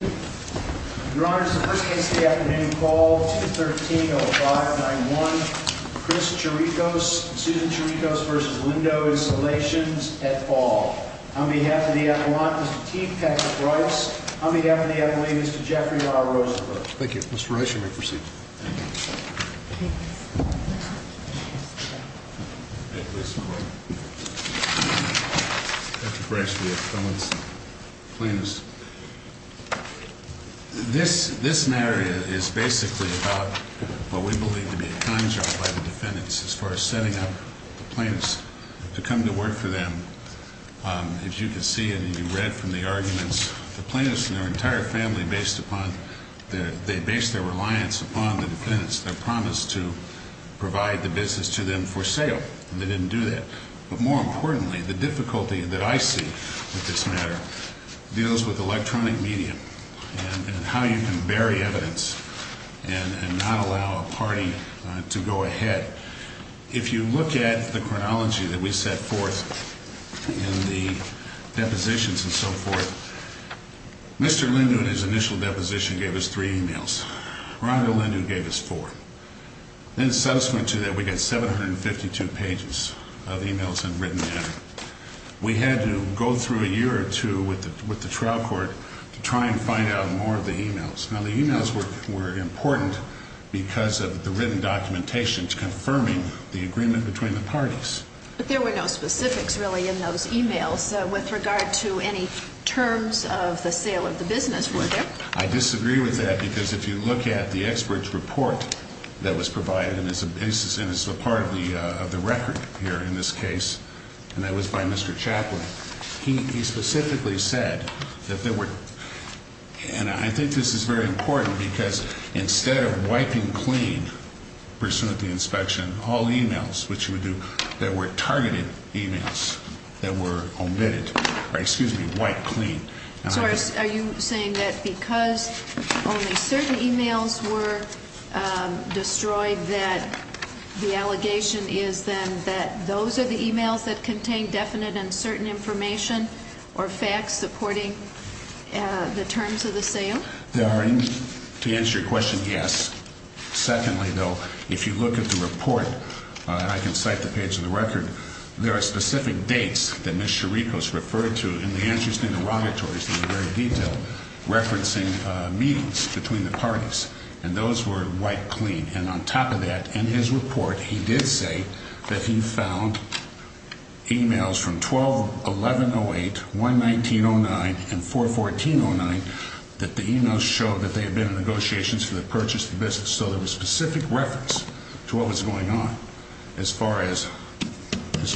Your Honor, this is the first case of the afternoon. Call 213-0591. Chris Cherekos and Susan Cherekos v. Lindoo Installations, et al. On behalf of the Avalanche, Mr. T. Patrick Bryce. On behalf of the Avalanche, Mr. Jeffrey R. Rosenberg. Thank you. Mr. Bryce, you may proceed. Thank you. Mr. Bryce, we have felons, plaintiffs. This scenario is basically about what we believe to be a con job by the defendants as far as setting up the plaintiffs to come to work for them. As you can see and you read from the arguments, the plaintiffs and their entire family based their reliance upon the defendants. They promised to provide the business to them for sale, and they didn't do that. But more importantly, the difficulty that I see with this matter deals with electronic media and how you can bury evidence and not allow a party to go ahead. If you look at the chronology that we set forth in the depositions and so forth, Mr. Lindoo in his initial deposition gave us three emails. Ronald Lindoo gave us four. Then subsequent to that, we got 752 pages of emails in written manner. We had to go through a year or two with the trial court to try and find out more of the emails. Now, the emails were important because of the written documentation confirming the agreement between the parties. But there were no specifics really in those emails with regard to any terms of the sale of the business, were there? I disagree with that because if you look at the expert's report that was provided, and it's a part of the record here in this case, and that was by Mr. Chaplin. He specifically said that there were, and I think this is very important because instead of wiping clean, pursuant to the inspection, all emails, which you would do, there were targeted emails that were omitted. Excuse me, wiped clean. So are you saying that because only certain emails were destroyed that the allegation is then that those are the emails that contain definite and certain information or facts supporting the terms of the sale? To answer your question, yes. Secondly, though, if you look at the report, I can cite the page of the record. There are specific dates that Mr. Ricos referred to in the interesting derogatories in the very detail, referencing meetings between the parties. And those were wiped clean. And on top of that, in his report, he did say that he found emails from 12-1108, 119-09, and 414-09 that the emails showed that they had been in negotiations for the purchase of the business. So there was specific reference to what was going on as far as the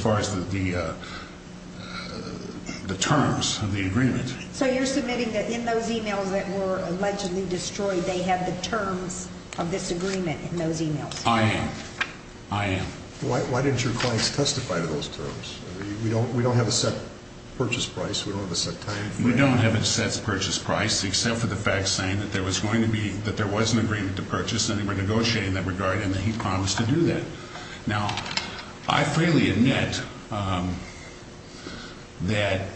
terms of the agreement. So you're submitting that in those emails that were allegedly destroyed, they have the terms of this agreement in those emails? I am. I am. Why didn't your clients testify to those terms? We don't have a set purchase price. We don't have a set time frame. We don't have a set purchase price except for the fact saying that there was going to be – that there was an agreement to purchase and they were negotiating that regard and that he promised to do that. Now, I freely admit that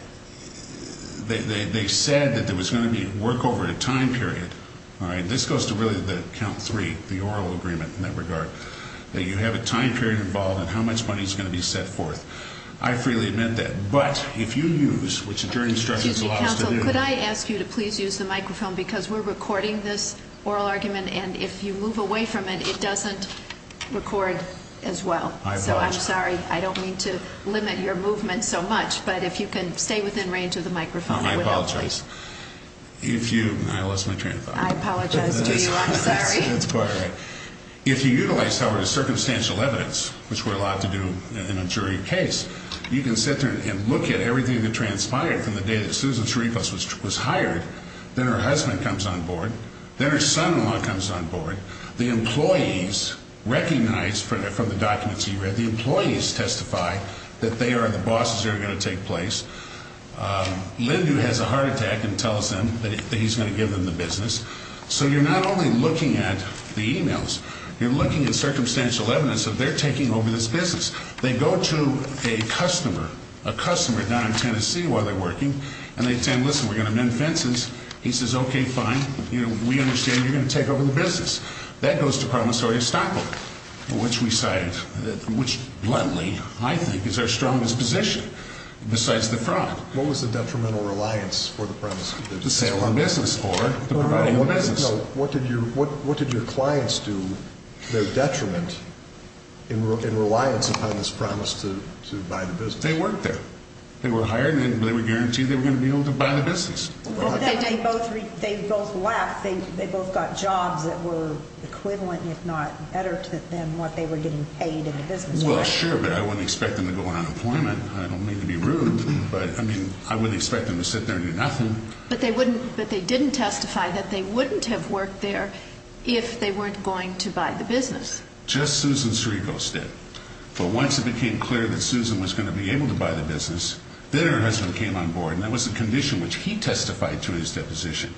they said that there was going to be a work-over-time period. This goes to really the count three, the oral agreement in that regard, that you have a time period involved in how much money is going to be set forth. I freely admit that. But if you use – which the jury instructions allow us to do – If you move away from it, it doesn't record as well. I apologize. So I'm sorry. I don't mean to limit your movement so much, but if you can stay within range of the microphone, I would help, please. I apologize. If you – I lost my train of thought. I apologize to you. I'm sorry. That's quite all right. If you utilize, however, the circumstantial evidence, which we're allowed to do in a jury case, you can sit there and look at everything that transpired from the day that Susan Sharifas was hired, then her husband comes on board, then her son-in-law comes on board. The employees recognize from the documents you read, the employees testify that they are the bosses that are going to take place. Lindu has a heart attack and tells them that he's going to give them the business. So you're not only looking at the emails. You're looking at circumstantial evidence that they're taking over this business. They go to a customer, a customer down in Tennessee while they're working, and they tell him, listen, we're going to mend fences. He says, okay, fine. We understand you're going to take over the business. That goes to promissory estoppel, which we cited, which bluntly, I think, is our strongest position besides the fraud. What was the detrimental reliance for the promissory business? What did your clients do to their detriment in reliance upon this promise to buy the business? They worked there. They were hired, and they were guaranteed they were going to be able to buy the business. They both left. They both got jobs that were equivalent, if not better, than what they were getting paid in the business world. Well, sure, but I wouldn't expect them to go out on employment. I don't mean to be rude, but, I mean, I wouldn't expect them to sit there and do nothing. But they didn't testify that they wouldn't have worked there if they weren't going to buy the business. Just Susan Sirico said. But once it became clear that Susan was going to be able to buy the business, then her husband came on board, and that was the condition which he testified to in his deposition,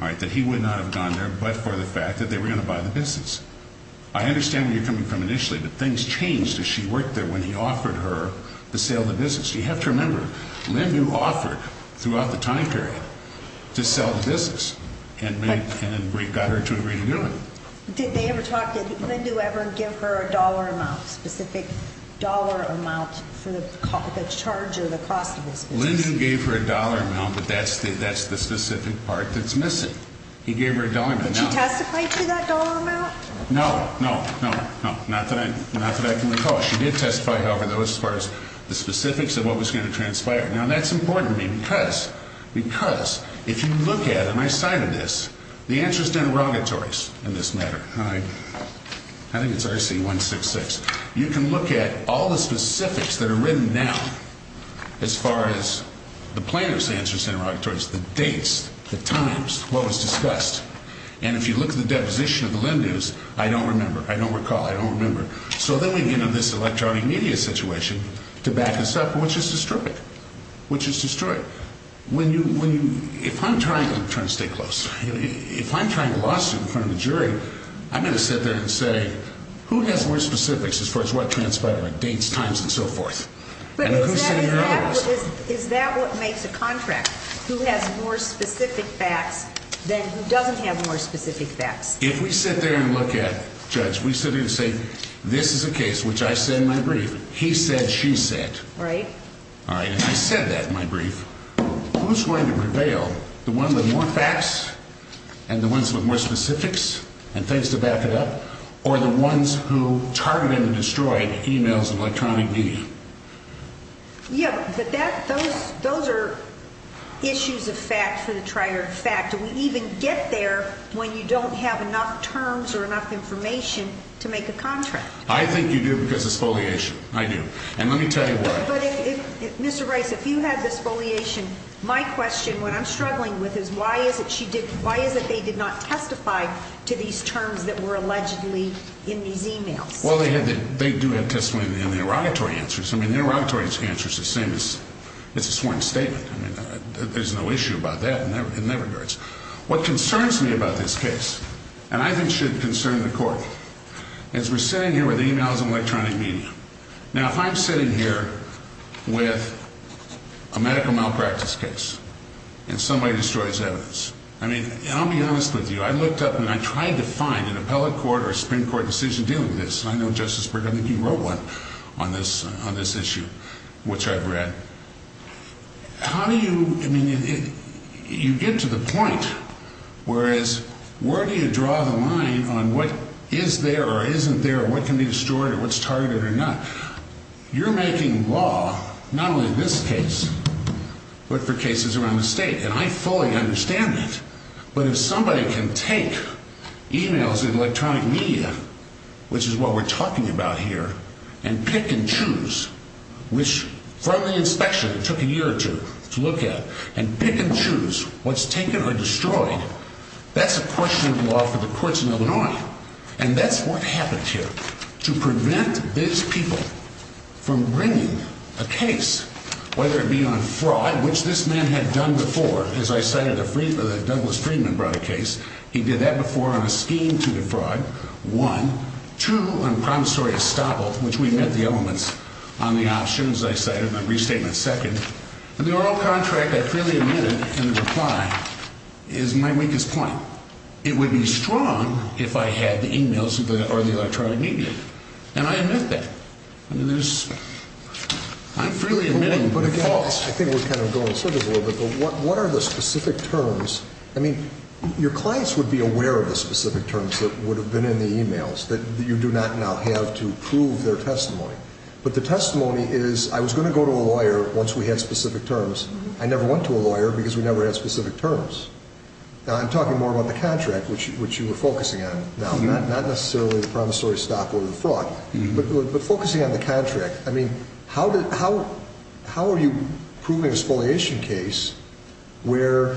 all right, that he would not have gone there but for the fact that they were going to buy the business. I understand where you're coming from initially, but things changed as she worked there when he offered her the sale of the business. You have to remember, Lindu offered throughout the time period to sell the business and got her to agree to do it. Did they ever talk? Did Lindu ever give her a dollar amount, a specific dollar amount for the charge or the cost of this business? Lindu gave her a dollar amount, but that's the specific part that's missing. He gave her a dollar amount. Did she testify to that dollar amount? No, no, no, no, not that I can recall. She did testify, however, as far as the specifics of what was going to transpire. Now, that's important to me because if you look at it, and I cited this, the answers to interrogatories in this matter, and I think it's RC-166, you can look at all the specifics that are written now as far as the planners' answers to interrogatories, the dates, the times, what was discussed. And if you look at the deposition of the Lindus, I don't remember. I don't recall. I don't remember. So then we get into this electronic media situation to back us up, which is destroyed, which is destroyed. If I'm trying to stay close, if I'm trying a lawsuit in front of a jury, I'm going to sit there and say, who has more specifics as far as what transpired, like dates, times, and so forth? Is that what makes a contract, who has more specific facts than who doesn't have more specific facts? If we sit there and look at, Judge, we sit here and say, this is a case which I said in my brief. He said, she said. Right. All right. If I said that in my brief, who's going to prevail? The ones with more facts and the ones with more specifics and things to back it up, or the ones who targeted and destroyed emails of electronic media? Yeah, but those are issues of fact for the trier of fact. Do we even get there when you don't have enough terms or enough information to make a contract? I think you do because it's foliation. I do. And let me tell you what. But, Mr. Rice, if you had this foliation, my question, what I'm struggling with is, why is it they did not testify to these terms that were allegedly in these emails? Well, they do have testimony in the derogatory answers. I mean, the derogatory answer is the same as it's a sworn statement. I mean, there's no issue about that in their regards. What concerns me about this case, and I think should concern the court, is we're sitting here with emails of electronic media. Now, if I'm sitting here with a medical malpractice case and somebody destroys evidence, I mean, I'll be honest with you. I looked up and I tried to find an appellate court or a Supreme Court decision dealing with this. I know, Justice Berger, I think you wrote one on this issue, which I've read. How do you, I mean, you get to the point. Whereas, where do you draw the line on what is there or isn't there or what can be destroyed or what's targeted or not? You're making law, not only this case, but for cases around the state. And I fully understand that. But if somebody can take emails of electronic media, which is what we're talking about here, and pick and choose, which from the inspection, it took a year or two to look at, and pick and choose what's taken or destroyed, that's a question of law for the courts in Illinois. And that's what happened here. To prevent these people from bringing a case, whether it be on fraud, which this man had done before, as I cited, Douglas Friedman brought a case. He did that before on a scheme to defraud. One. Two, I'm promissory of Staple, which we met the elements on the options, as I cited in my restatement, second. And the oral contract, I clearly admitted in the reply, is my weakest point. It would be strong if I had the emails or the electronic media. And I admit that. I mean, there's, I'm freely admitting they're false. I think we're kind of going through this a little bit, but what are the specific terms? I mean, your clients would be aware of the specific terms that would have been in the emails, that you do not now have to prove their testimony. But the testimony is, I was going to go to a lawyer once we had specific terms. I never went to a lawyer because we never had specific terms. Now, I'm talking more about the contract, which you were focusing on now, not necessarily the promissory of Staple or the fraud, but focusing on the contract. I mean, how are you proving an exfoliation case where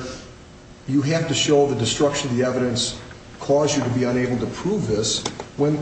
you have to show the destruction of the evidence caused you to be unable to prove this when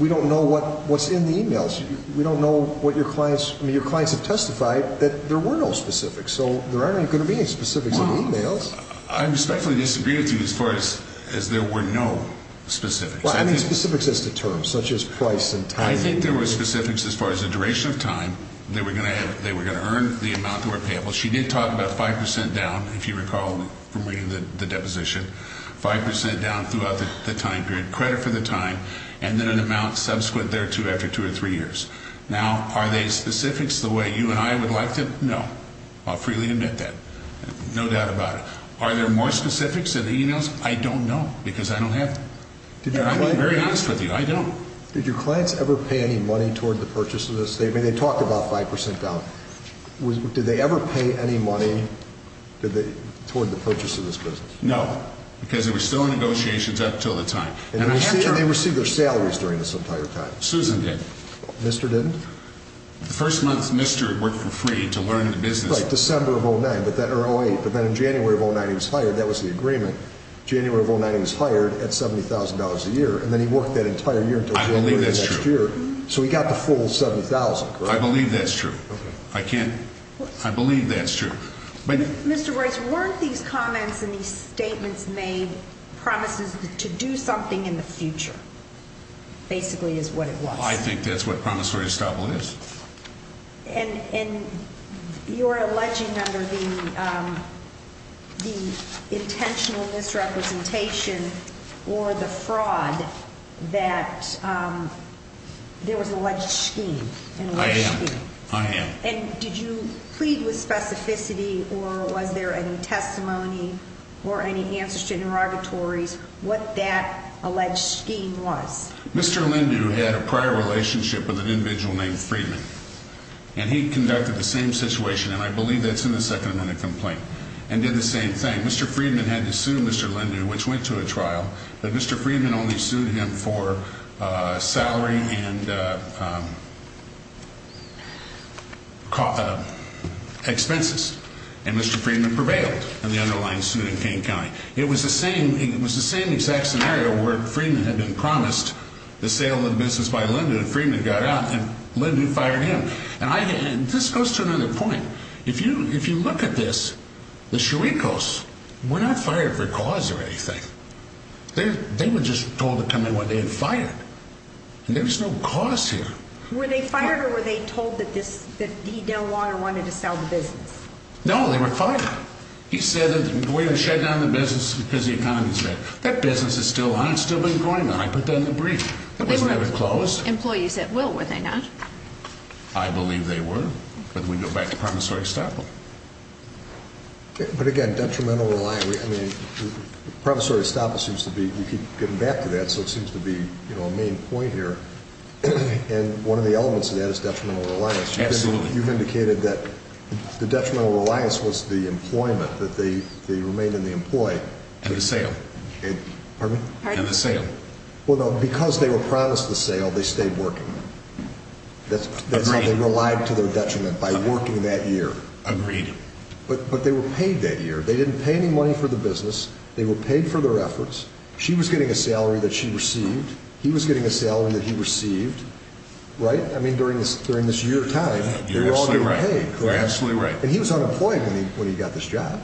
we don't know what's in the emails? We don't know what your clients, I mean, your clients have testified that there were no specifics, so there aren't going to be any specifics in the emails. I respectfully disagree with you as far as there were no specifics. Well, I mean specifics as to terms, such as price and time. I think there were specifics as far as the duration of time. They were going to earn the amount that were payable. She did talk about 5 percent down, if you recall from reading the deposition, 5 percent down throughout the time period, credit for the time, and then an amount subsequent thereto after two or three years. Now, are they specifics the way you and I would like them? No. I'll freely admit that. No doubt about it. Are there more specifics in the emails? I don't know because I don't have them. I'm being very honest with you. I don't. Did your clients ever pay any money toward the purchase of this? I mean, they talked about 5 percent down. Did they ever pay any money toward the purchase of this business? No, because there were still negotiations up until the time. And they received their salaries during this entire time? Susan did. Mr. didn't? The first month Mr. worked for free to learn the business. Right, December of 08, but then in January of 09 he was hired. That was the agreement. January of 09 he was hired at $70,000 a year, and then he worked that entire year until January of next year. I believe that's true. So he got the full $70,000, correct? I believe that's true. I can't. I believe that's true. Mr. Royce, weren't these comments and these statements made promises to do something in the future? Basically is what it was. I think that's what promissory estoppel is. And you're alleging under the intentional misrepresentation or the fraud that there was an alleged scheme. I am. I am. And did you plead with specificity or was there any testimony or any answers to interrogatories what that alleged scheme was? Mr. Lindu had a prior relationship with an individual named Freedman, and he conducted the same situation, and I believe that's in the second amendment complaint, and did the same thing. Mr. Freedman had to sue Mr. Lindu, which went to a trial, but Mr. Freedman only sued him for salary and expenses, and Mr. Freedman prevailed in the underlying suit in Kane County. It was the same exact scenario where Freedman had been promised the sale of the business by Lindu, and Freedman got out, and Lindu fired him. And this goes to another point. If you look at this, the Chiricos were not fired for cause or anything. They were just told to come in what they had fired, and there was no cause here. Were they fired or were they told that E. Dale Water wanted to sell the business? No, they were fired. He said that we're going to shut down the business because the economy is bad. That business is still on. It's still been going on. I put that in the brief. They weren't employees at will, were they not? I believe they were. But we go back to promissory estoppel. But again, detrimental reliance. I mean, promissory estoppel seems to be, you keep getting back to that, so it seems to be a main point here, and one of the elements of that is detrimental reliance. Absolutely. You've indicated that the detrimental reliance was the employment, that they remained in the employ. And the sale. Pardon me? And the sale. Well, no, because they were promised the sale, they stayed working. That's how they relied to their detriment, by working that year. Agreed. But they were paid that year. They didn't pay any money for the business. They were paid for their efforts. She was getting a salary that she received. He was getting a salary that he received. Right? I mean, during this year time, they were all getting paid. You're absolutely right. And he was unemployed when he got this job.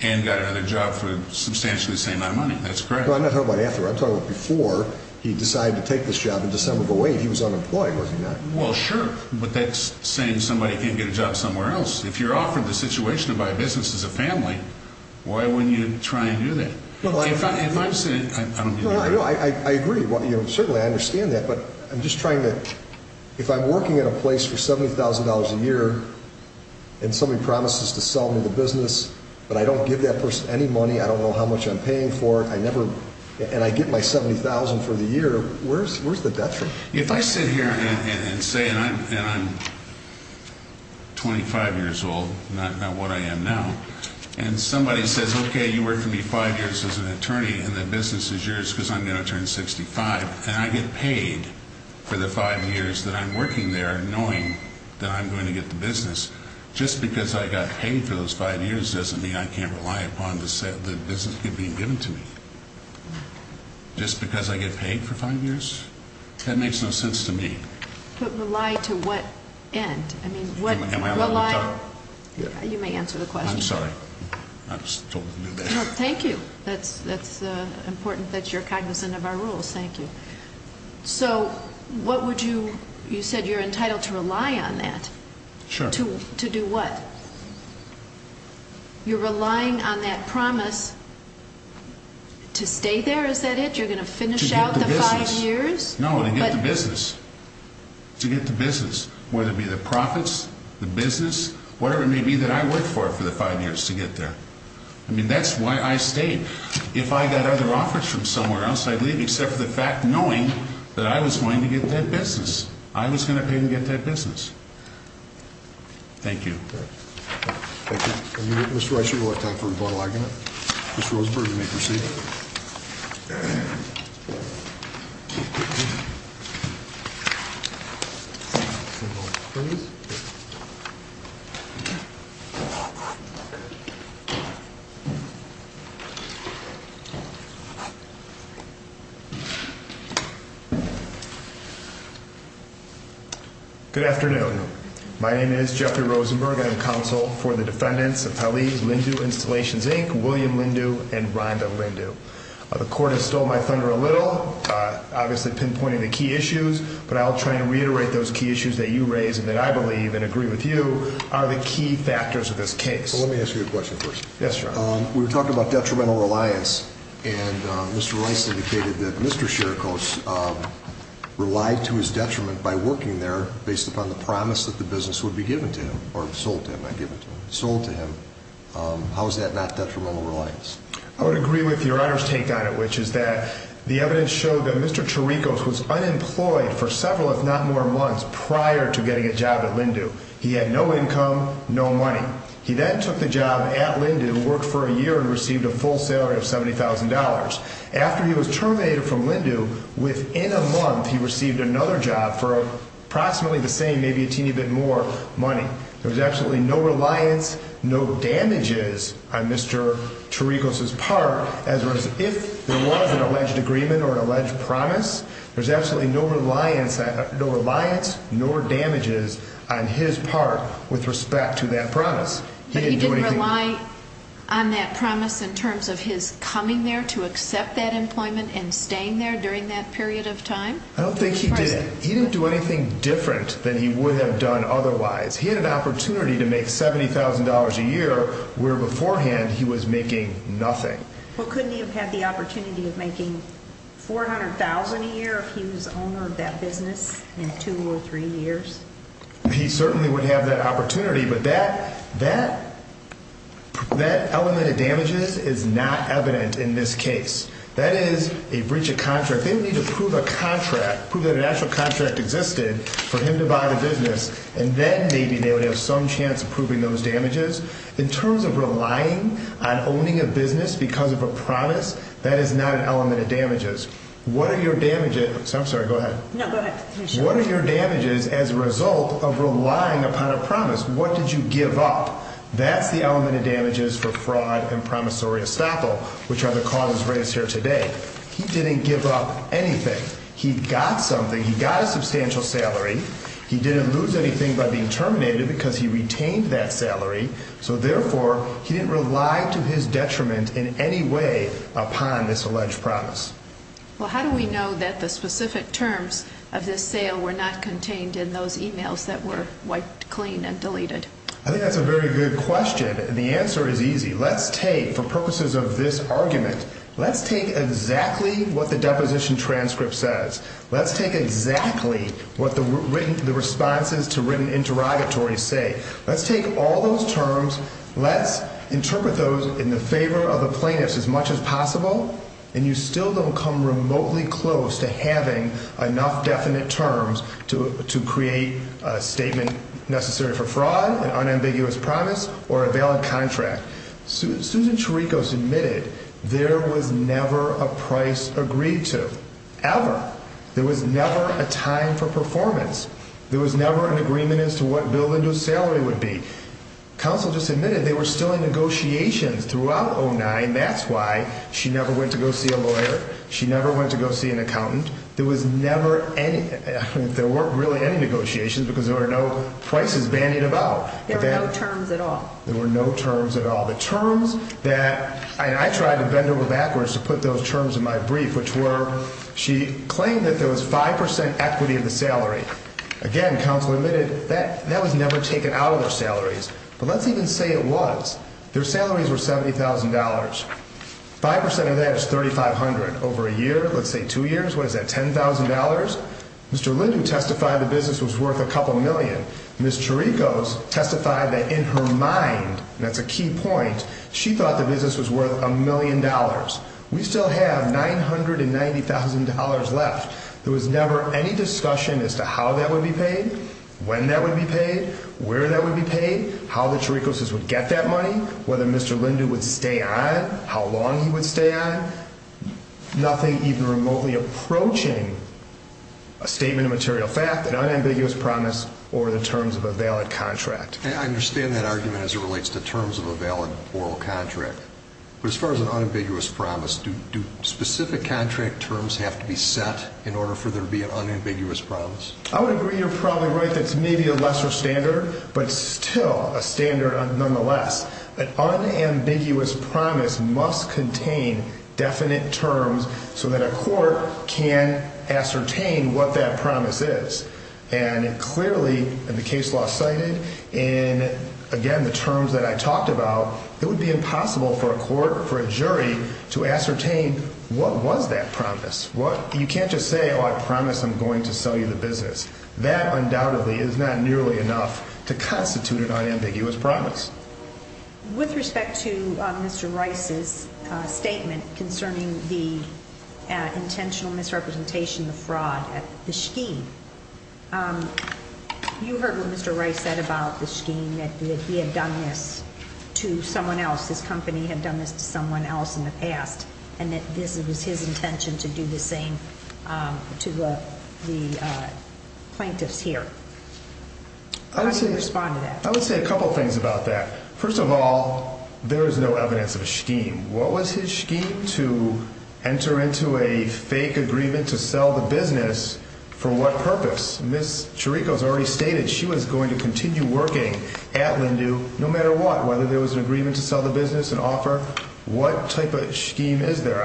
And got another job for a substantially the same amount of money. That's correct. No, I'm not talking about after. I'm talking about before he decided to take this job into some of the weight. He was unemployed, was he not? Well, sure. But that's saying somebody can't get a job somewhere else. If you're offered the situation to buy a business as a family, why wouldn't you try and do that? No, I agree. Certainly I understand that. But I'm just trying to, if I'm working at a place for $70,000 a year and somebody promises to sell me the business, but I don't give that person any money, I don't know how much I'm paying for it, and I get my $70,000 for the year, where's the detriment? If I sit here and say, and I'm 25 years old, not what I am now, and somebody says, okay, you work for me five years as an attorney and the business is yours because I'm going to turn 65, and I get paid for the five years that I'm working there knowing that I'm going to get the business, just because I got paid for those five years doesn't mean I can't rely upon the business being given to me. Just because I get paid for five years? That makes no sense to me. But rely to what end? I mean, what rely? Am I allowed to talk? You may answer the question. I'm sorry. I was told to do that. No, thank you. That's important that you're cognizant of our rules. Thank you. So what would you, you said you're entitled to rely on that. Sure. To do what? You're relying on that promise to stay there, is that it? You're going to finish out the five years? To get the business. No, to get the business. To get the business, whether it be the profits, the business, whatever it may be that I worked for for the five years to get there. I mean, that's why I stayed. If I got other offers from somewhere else, I'd leave, except for the fact, knowing that I was going to get that business. I was going to pay them to get that business. Thank you. Thank you. Mr. Reichert, you're on time for rebuttal. Mr. Rosenberg, you may proceed. Please. Good afternoon. My name is Jeffrey Rosenberg. I'm counsel for the defendants of Hallie Lindu Installations Inc., William Lindu, and Rhonda Lindu. The court has stole my thunder a little. Obviously, pinpointing the key issues, but I'll try and reiterate those key issues that you raise and that I believe and agree with you are the key factors of this case. Let me ask you a question first. Yes, Your Honor. We were talking about detrimental reliance, and Mr. Rice indicated that Mr. Scherkos relied to his detriment by working there based upon the promise that the business would be given to him, or sold to him, not given to him. Sold to him. How is that not detrimental reliance? I would agree with Your Honor's take on it, which is that the evidence showed that Mr. Scherkos was unemployed for several, if not more, months prior to getting a job at Lindu. He had no income, no money. He then took the job at Lindu, worked for a year, and received a full salary of $70,000. After he was terminated from Lindu, within a month he received another job for approximately the same, maybe a teeny bit more, money. There was absolutely no reliance, no damages on Mr. Scherkos' part, as was if there was an alleged agreement or an alleged promise. There's absolutely no reliance, no damages on his part with respect to that promise. But he didn't rely on that promise in terms of his coming there to accept that employment and staying there during that period of time? I don't think he did. He didn't do anything different than he would have done otherwise. He had an opportunity to make $70,000 a year, where beforehand he was making nothing. Well, couldn't he have had the opportunity of making $400,000 a year if he was owner of that business in two or three years? He certainly would have that opportunity, but that element of damages is not evident in this case. That is a breach of contract. If they would need to prove a contract, prove that an actual contract existed for him to buy the business, and then maybe they would have some chance of proving those damages. In terms of relying on owning a business because of a promise, that is not an element of damages. What are your damages? I'm sorry, go ahead. No, go ahead. What are your damages as a result of relying upon a promise? What did you give up? That's the element of damages for fraud and promissory estoppel, which are the causes raised here today. He didn't give up anything. He got something. He got a substantial salary. He didn't lose anything by being terminated because he retained that salary. So, therefore, he didn't rely to his detriment in any way upon this alleged promise. Well, how do we know that the specific terms of this sale were not contained in those e-mails that were wiped clean and deleted? I think that's a very good question, and the answer is easy. Let's take, for purposes of this argument, let's take exactly what the deposition transcript says. Let's take exactly what the responses to written interrogatories say. Let's take all those terms. Let's interpret those in the favor of the plaintiffs as much as possible, and you still don't come remotely close to having enough definite terms to create a statement necessary for fraud, an unambiguous promise, or a valid contract. Susan Cherikos admitted there was never a price agreed to, ever. There was never a time for performance. There was never an agreement as to what Bill Lindell's salary would be. Counsel just admitted they were still in negotiations throughout 09. That's why she never went to go see a lawyer. She never went to go see an accountant. There was never any, there weren't really any negotiations because there were no prices bandied about. There were no terms at all. There were no terms at all. The terms that, and I tried to bend over backwards to put those terms in my brief, which were she claimed that there was 5% equity of the salary. Again, counsel admitted that was never taken out of their salaries, but let's even say it was. Their salaries were $70,000. 5% of that is $3,500. Over a year, let's say two years, what is that, $10,000? Mr. Lindell testified the business was worth a couple million. Ms. Cherikos testified that in her mind, and that's a key point, she thought the business was worth a million dollars. We still have $990,000 left. There was never any discussion as to how that would be paid, when that would be paid, where that would be paid, how the Cherikoses would get that money, whether Mr. Lindell would stay on, how long he would stay on. Nothing even remotely approaching a statement of material fact, an unambiguous promise, or the terms of a valid contract. I understand that argument as it relates to terms of a valid oral contract. But as far as an unambiguous promise, do specific contract terms have to be set in order for there to be an unambiguous promise? I would agree you're probably right that it's maybe a lesser standard, but still a standard nonetheless. An unambiguous promise must contain definite terms so that a court can ascertain what that promise is. And clearly, and the case law cited, and again, the terms that I talked about, it would be impossible for a court, for a jury, to ascertain what was that promise. You can't just say, oh, I promise I'm going to sell you the business. That undoubtedly is not nearly enough to constitute an unambiguous promise. With respect to Mr. Rice's statement concerning the intentional misrepresentation of fraud, the scheme, you heard what Mr. Rice said about the scheme, that he had done this to someone else. His company had done this to someone else in the past, and that this was his intention to do the same to the plaintiffs here. How do you respond to that? I would say a couple things about that. First of all, there is no evidence of a scheme. What was his scheme? To enter into a fake agreement to sell the business for what purpose? Ms. Chirico has already stated she was going to continue working at Lindu no matter what, whether there was an agreement to sell the business, an offer. What type of scheme is there?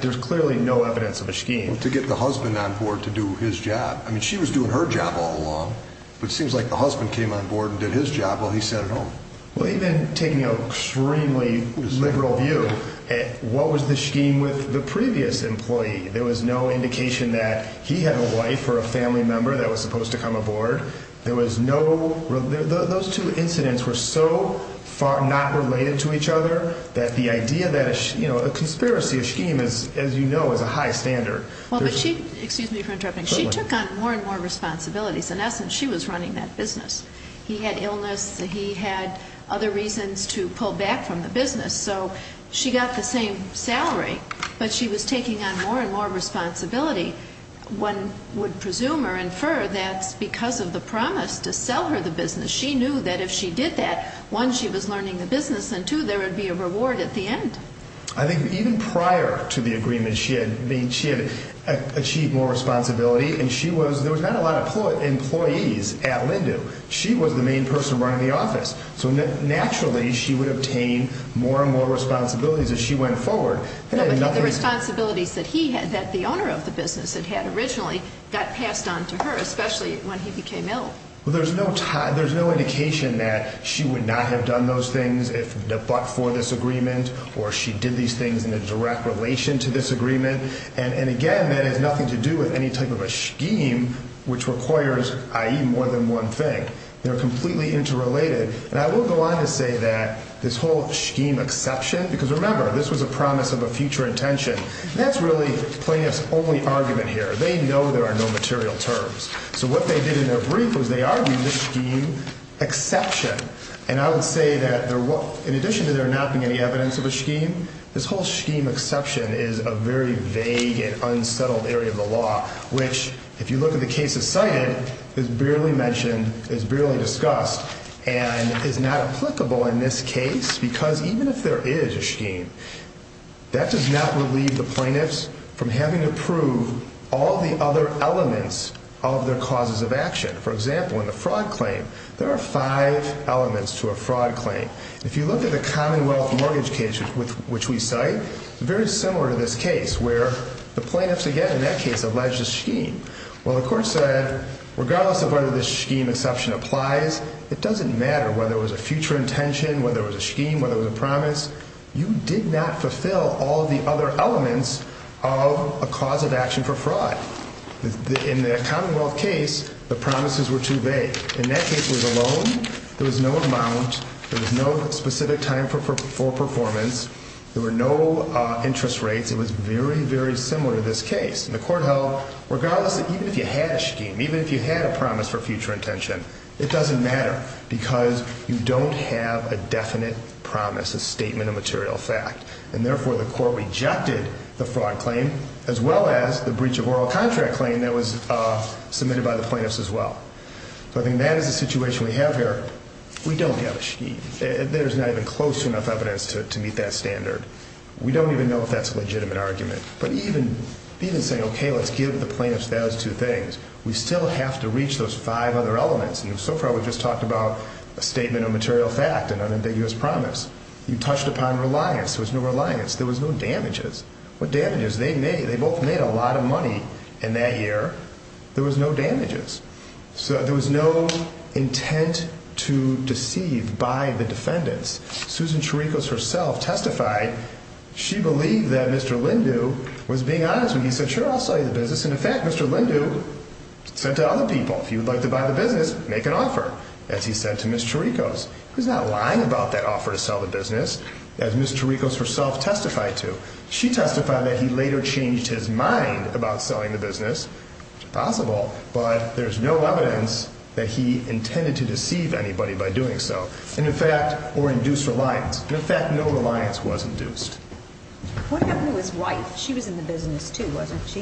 There's clearly no evidence of a scheme. To get the husband on board to do his job. I mean, she was doing her job all along, but it seems like the husband came on board and did his job while he sat at home. Well, even taking an extremely liberal view, what was the scheme with the previous employee? There was no indication that he had a wife or a family member that was supposed to come aboard. Those two incidents were so not related to each other that the idea that a conspiracy, a scheme, as you know, is a high standard. Excuse me for interrupting. She took on more and more responsibilities. In essence, she was running that business. He had illness. He had other reasons to pull back from the business. So she got the same salary, but she was taking on more and more responsibility. One would presume or infer that's because of the promise to sell her the business. She knew that if she did that, one, she was learning the business, and two, there would be a reward at the end. I think even prior to the agreement, she had achieved more responsibility, and there was not a lot of employees at Lindu. She was the main person running the office. So naturally, she would obtain more and more responsibilities as she went forward. No, but the responsibilities that he had, that the owner of the business had had originally, got passed on to her, especially when he became ill. Well, there's no indication that she would not have done those things if but for this agreement or she did these things in a direct relation to this agreement. And, again, that has nothing to do with any type of a scheme which requires, i.e., more than one thing. They're completely interrelated. And I will go on to say that this whole scheme exception, because remember, this was a promise of a future intention. That's really plaintiff's only argument here. They know there are no material terms. So what they did in their brief was they argued this scheme exception. And I would say that in addition to there not being any evidence of a scheme, this whole scheme exception is a very vague and unsettled area of the law, which, if you look at the cases cited, is barely mentioned, is barely discussed. And is not applicable in this case because even if there is a scheme, that does not relieve the plaintiffs from having to prove all the other elements of their causes of action. For example, in the fraud claim, there are five elements to a fraud claim. If you look at the commonwealth mortgage case which we cite, it's very similar to this case where the plaintiffs, again, in that case, allege the scheme. Well, the court said, regardless of whether this scheme exception applies, it doesn't matter whether it was a future intention, whether it was a scheme, whether it was a promise, you did not fulfill all the other elements of a cause of action for fraud. In the commonwealth case, the promises were too vague. In that case, it was a loan. There was no amount. There was no specific time for performance. There were no interest rates. It was very, very similar to this case. And the court held, regardless, even if you had a scheme, even if you had a promise for future intention, it doesn't matter because you don't have a definite promise, a statement of material fact. And therefore, the court rejected the fraud claim as well as the breach of oral contract claim that was submitted by the plaintiffs as well. So I think that is the situation we have here. We don't have a scheme. There's not even close enough evidence to meet that standard. We don't even know if that's a legitimate argument. But even saying, okay, let's give the plaintiffs those two things, we still have to reach those five other elements. And so far, we've just talked about a statement of material fact, an unambiguous promise. You touched upon reliance. There was no reliance. There was no damages. What damages? They both made a lot of money in that year. There was no damages. So there was no intent to deceive by the defendants. Susan Cherikos herself testified she believed that Mr. Lindu was being honest when he said, sure, I'll sell you the business. And, in fact, Mr. Lindu said to other people, if you'd like to buy the business, make an offer, as he said to Ms. Cherikos. He's not lying about that offer to sell the business, as Ms. Cherikos herself testified to. She testified that he later changed his mind about selling the business, which is possible, but there's no evidence that he intended to deceive anybody by doing so. And, in fact, or induce reliance. And, in fact, no reliance was induced. What happened to his wife? She was in the business, too, wasn't she?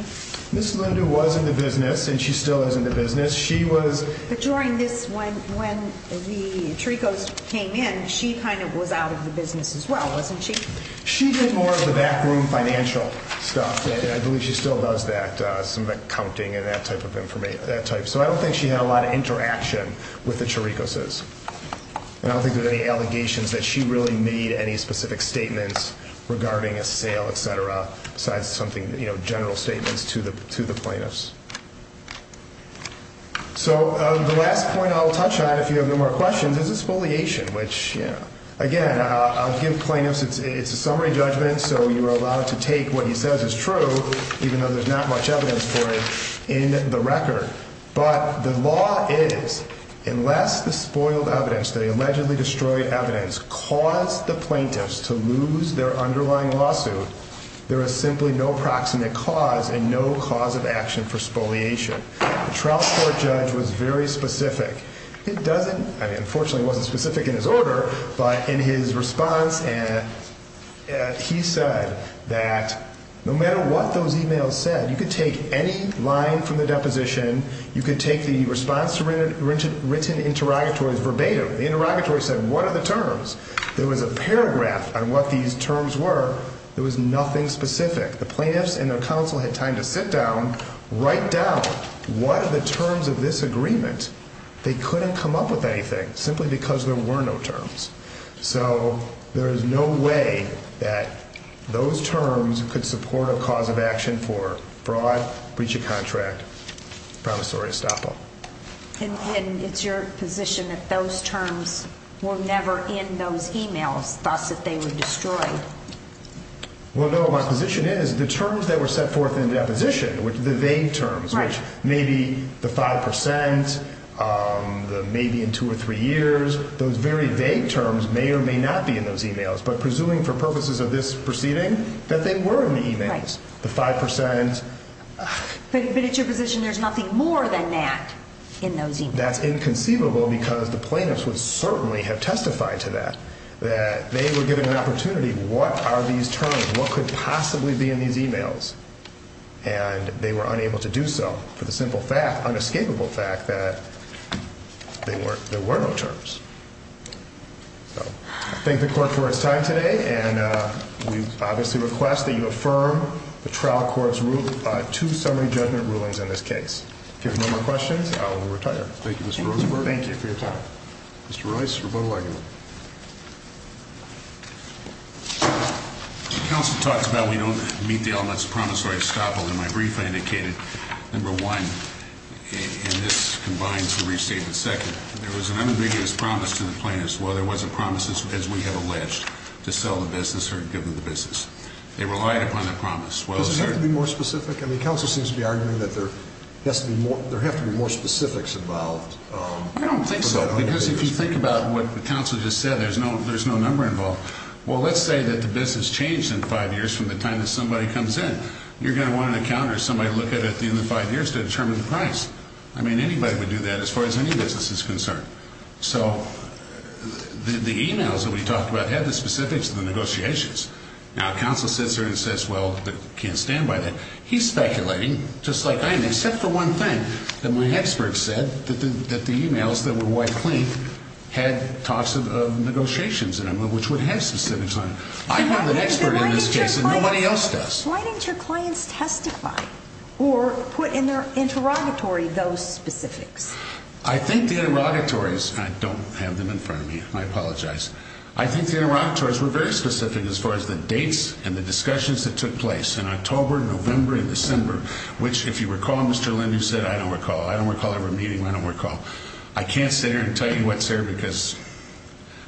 Ms. Lindu was in the business, and she still is in the business. She was. But during this, when the Cherikos came in, she kind of was out of the business as well, wasn't she? She did more of the backroom financial stuff. I believe she still does that, some of that counting and that type of information, that type. So I don't think she had a lot of interaction with the Cherikoses. And I don't think there's any allegations that she really made any specific statements regarding a sale, et cetera, besides general statements to the plaintiffs. So the last point I'll touch on, if you have no more questions, is exfoliation, which, again, I'll give plaintiffs. It's a summary judgment, so you are allowed to take what he says is true, even though there's not much evidence for it, in the record. But the law is, unless the spoiled evidence, the allegedly destroyed evidence, caused the plaintiffs to lose their underlying lawsuit, there is simply no proximate cause and no cause of action for spoliation. The trial court judge was very specific. It doesn't – I mean, unfortunately, it wasn't specific in his order, but in his response, he said that no matter what those emails said, you could take any line from the deposition, you could take the response to written interrogatories verbatim. The interrogatory said, what are the terms? There was a paragraph on what these terms were. There was nothing specific. The plaintiffs and their counsel had time to sit down, write down what are the terms of this agreement. They couldn't come up with anything, simply because there were no terms. So there is no way that those terms could support a cause of action for fraud, breach of contract, promissory estoppel. And it's your position that those terms were never in those emails, thus that they were destroyed? Well, no, my position is the terms that were set forth in the deposition, the vague terms, which may be the 5 percent, may be in two or three years, those very vague terms may or may not be in those emails. But presuming for purposes of this proceeding, that they were in the emails, the 5 percent. But it's your position there's nothing more than that in those emails? That's inconceivable because the plaintiffs would certainly have testified to that, that they were given an opportunity. What are these terms? What could possibly be in these emails? And they were unable to do so for the simple fact, unescapable fact, that there were no terms. Thank the court for its time today. And we obviously request that you affirm the trial court's two summary judgment rulings in this case. If you have no more questions, I will retire. Thank you, Mr. Rosenberg. Thank you for your time. Mr. Rice, rebuttal argument. The counsel talks about we don't meet the elements of promissory estoppel. In my brief, I indicated, number one, and this combines the restatement, second, there was an unambiguous promise to the plaintiffs. While there was a promise, as we have alleged, to sell the business or give them the business, they relied upon that promise. Does it have to be more specific? I mean, counsel seems to be arguing that there has to be more specifics involved. I don't think so, because if you think about what the counsel just said, there's no number involved. Well, let's say that the business changed in five years from the time that somebody comes in. You're going to want an accountant or somebody to look at it in the five years to determine the price. I mean, anybody would do that as far as any business is concerned. So the emails that we talked about had the specifics of the negotiations. Now, counsel sits there and says, well, I can't stand by that. He's speculating, just like I am, except for one thing, that my expert said that the emails that were wiped clean had talks of negotiations in them, which would have specifics on it. I have an expert in this case, and nobody else does. Why didn't your clients testify or put in their interrogatory those specifics? I think the interrogatories, and I don't have them in front of me. I apologize. I think the interrogatories were very specific as far as the dates and the discussions that took place in October, November, and December, which, if you recall, Mr. Lind, you said, I don't recall. I don't recall ever meeting. I don't recall. I can't sit here and tell you what's there because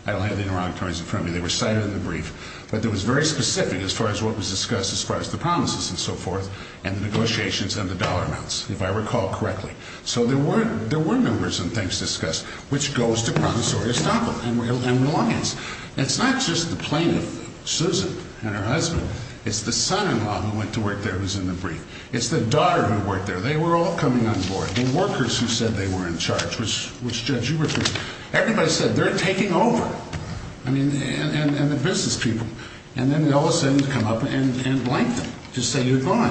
I don't have the interrogatories in front of me. They were cited in the brief. But it was very specific as far as what was discussed as far as the promises and so forth and the negotiations and the dollar amounts, if I recall correctly. So there were members and things discussed, which goes to promissory estoppel and reliance. It's not just the plaintiff, Susan, and her husband. It's the son-in-law who went to work there who was in the brief. It's the daughter who worked there. They were all coming on board, the workers who said they were in charge, which, Judge, you referred to. Everybody said they're taking over, I mean, and the business people. And then they all of a sudden come up and blank them to say you're gone.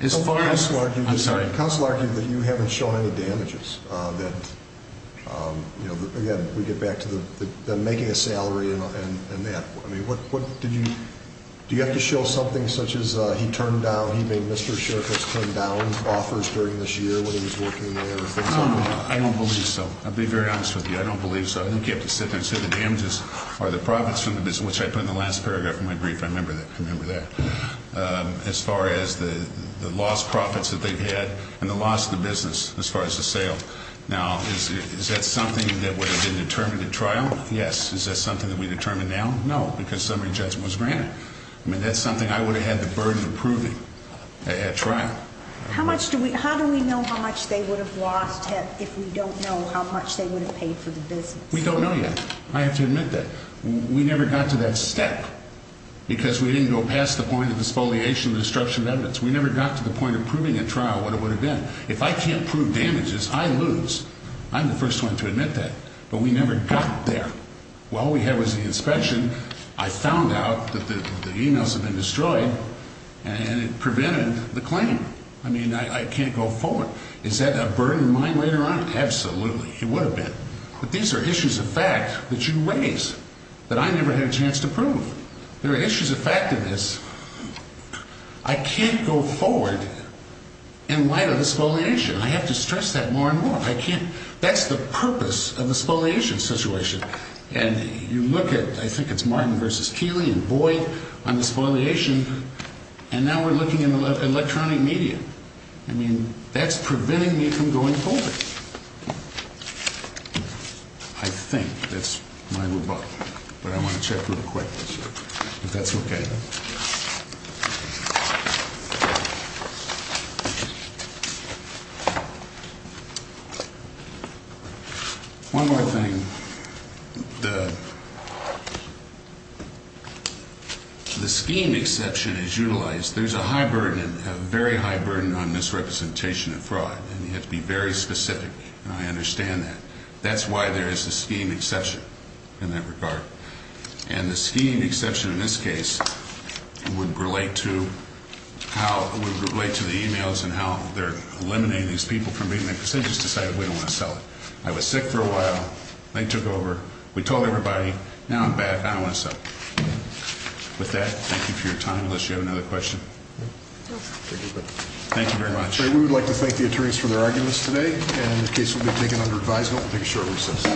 I'm sorry. Counsel argued that you haven't shown any damages, that, again, we get back to the making a salary and that. I mean, what did you do? You have to show something such as he turned down, he made Mr. Sheriff has turned down offers during this year when he was working there. I don't believe so. I'll be very honest with you. I don't believe so. I think you have to sit there and say the damages are the profits from the business, which I put in the last paragraph of my brief. I remember that. As far as the lost profits that they've had and the loss of the business, as far as the sale. Now, is that something that would have been determined at trial? Yes. Is that something that we determine now? No, because summary judgment was granted. I mean, that's something I would have had the burden of proving at trial. How much do we how do we know how much they would have lost if we don't know how much they would have paid for the business? We don't know yet. I have to admit that we never got to that step. Because we didn't go past the point of disfoliation, the destruction of evidence. We never got to the point of proving at trial what it would have been. If I can't prove damages, I lose. I'm the first one to admit that. But we never got there. All we had was the inspection. I found out that the emails had been destroyed and it prevented the claim. I mean, I can't go forward. Is that a burden of mine later on? Absolutely. It would have been. But these are issues of fact that you raise that I never had a chance to prove. There are issues of fact in this. I can't go forward in light of disfoliation. I have to stress that more and more. I can't. That's the purpose of the disfoliation situation. And you look at, I think it's Martin v. Keeley and Boyd on disfoliation, and now we're looking at electronic media. I mean, that's preventing me from going forward. I think that's my rebuttal, but I want to check real quick if that's okay. One more thing. The scheme exception is utilized. There's a high burden, a very high burden on misrepresentation of fraud. And you have to be very specific, and I understand that. That's why there is a scheme exception in that regard. And the scheme exception in this case would relate to the emails and how they're eliminating these people from being there, because they just decided we don't want to sell it. I was sick for a while. They took over. We told everybody. Now I'm back. I don't want to sell it. With that, thank you for your time, unless you have another question. Thank you very much. We would like to thank the attorneys for their arguments today. And this case will be taken under advisement. We'll take a short recess.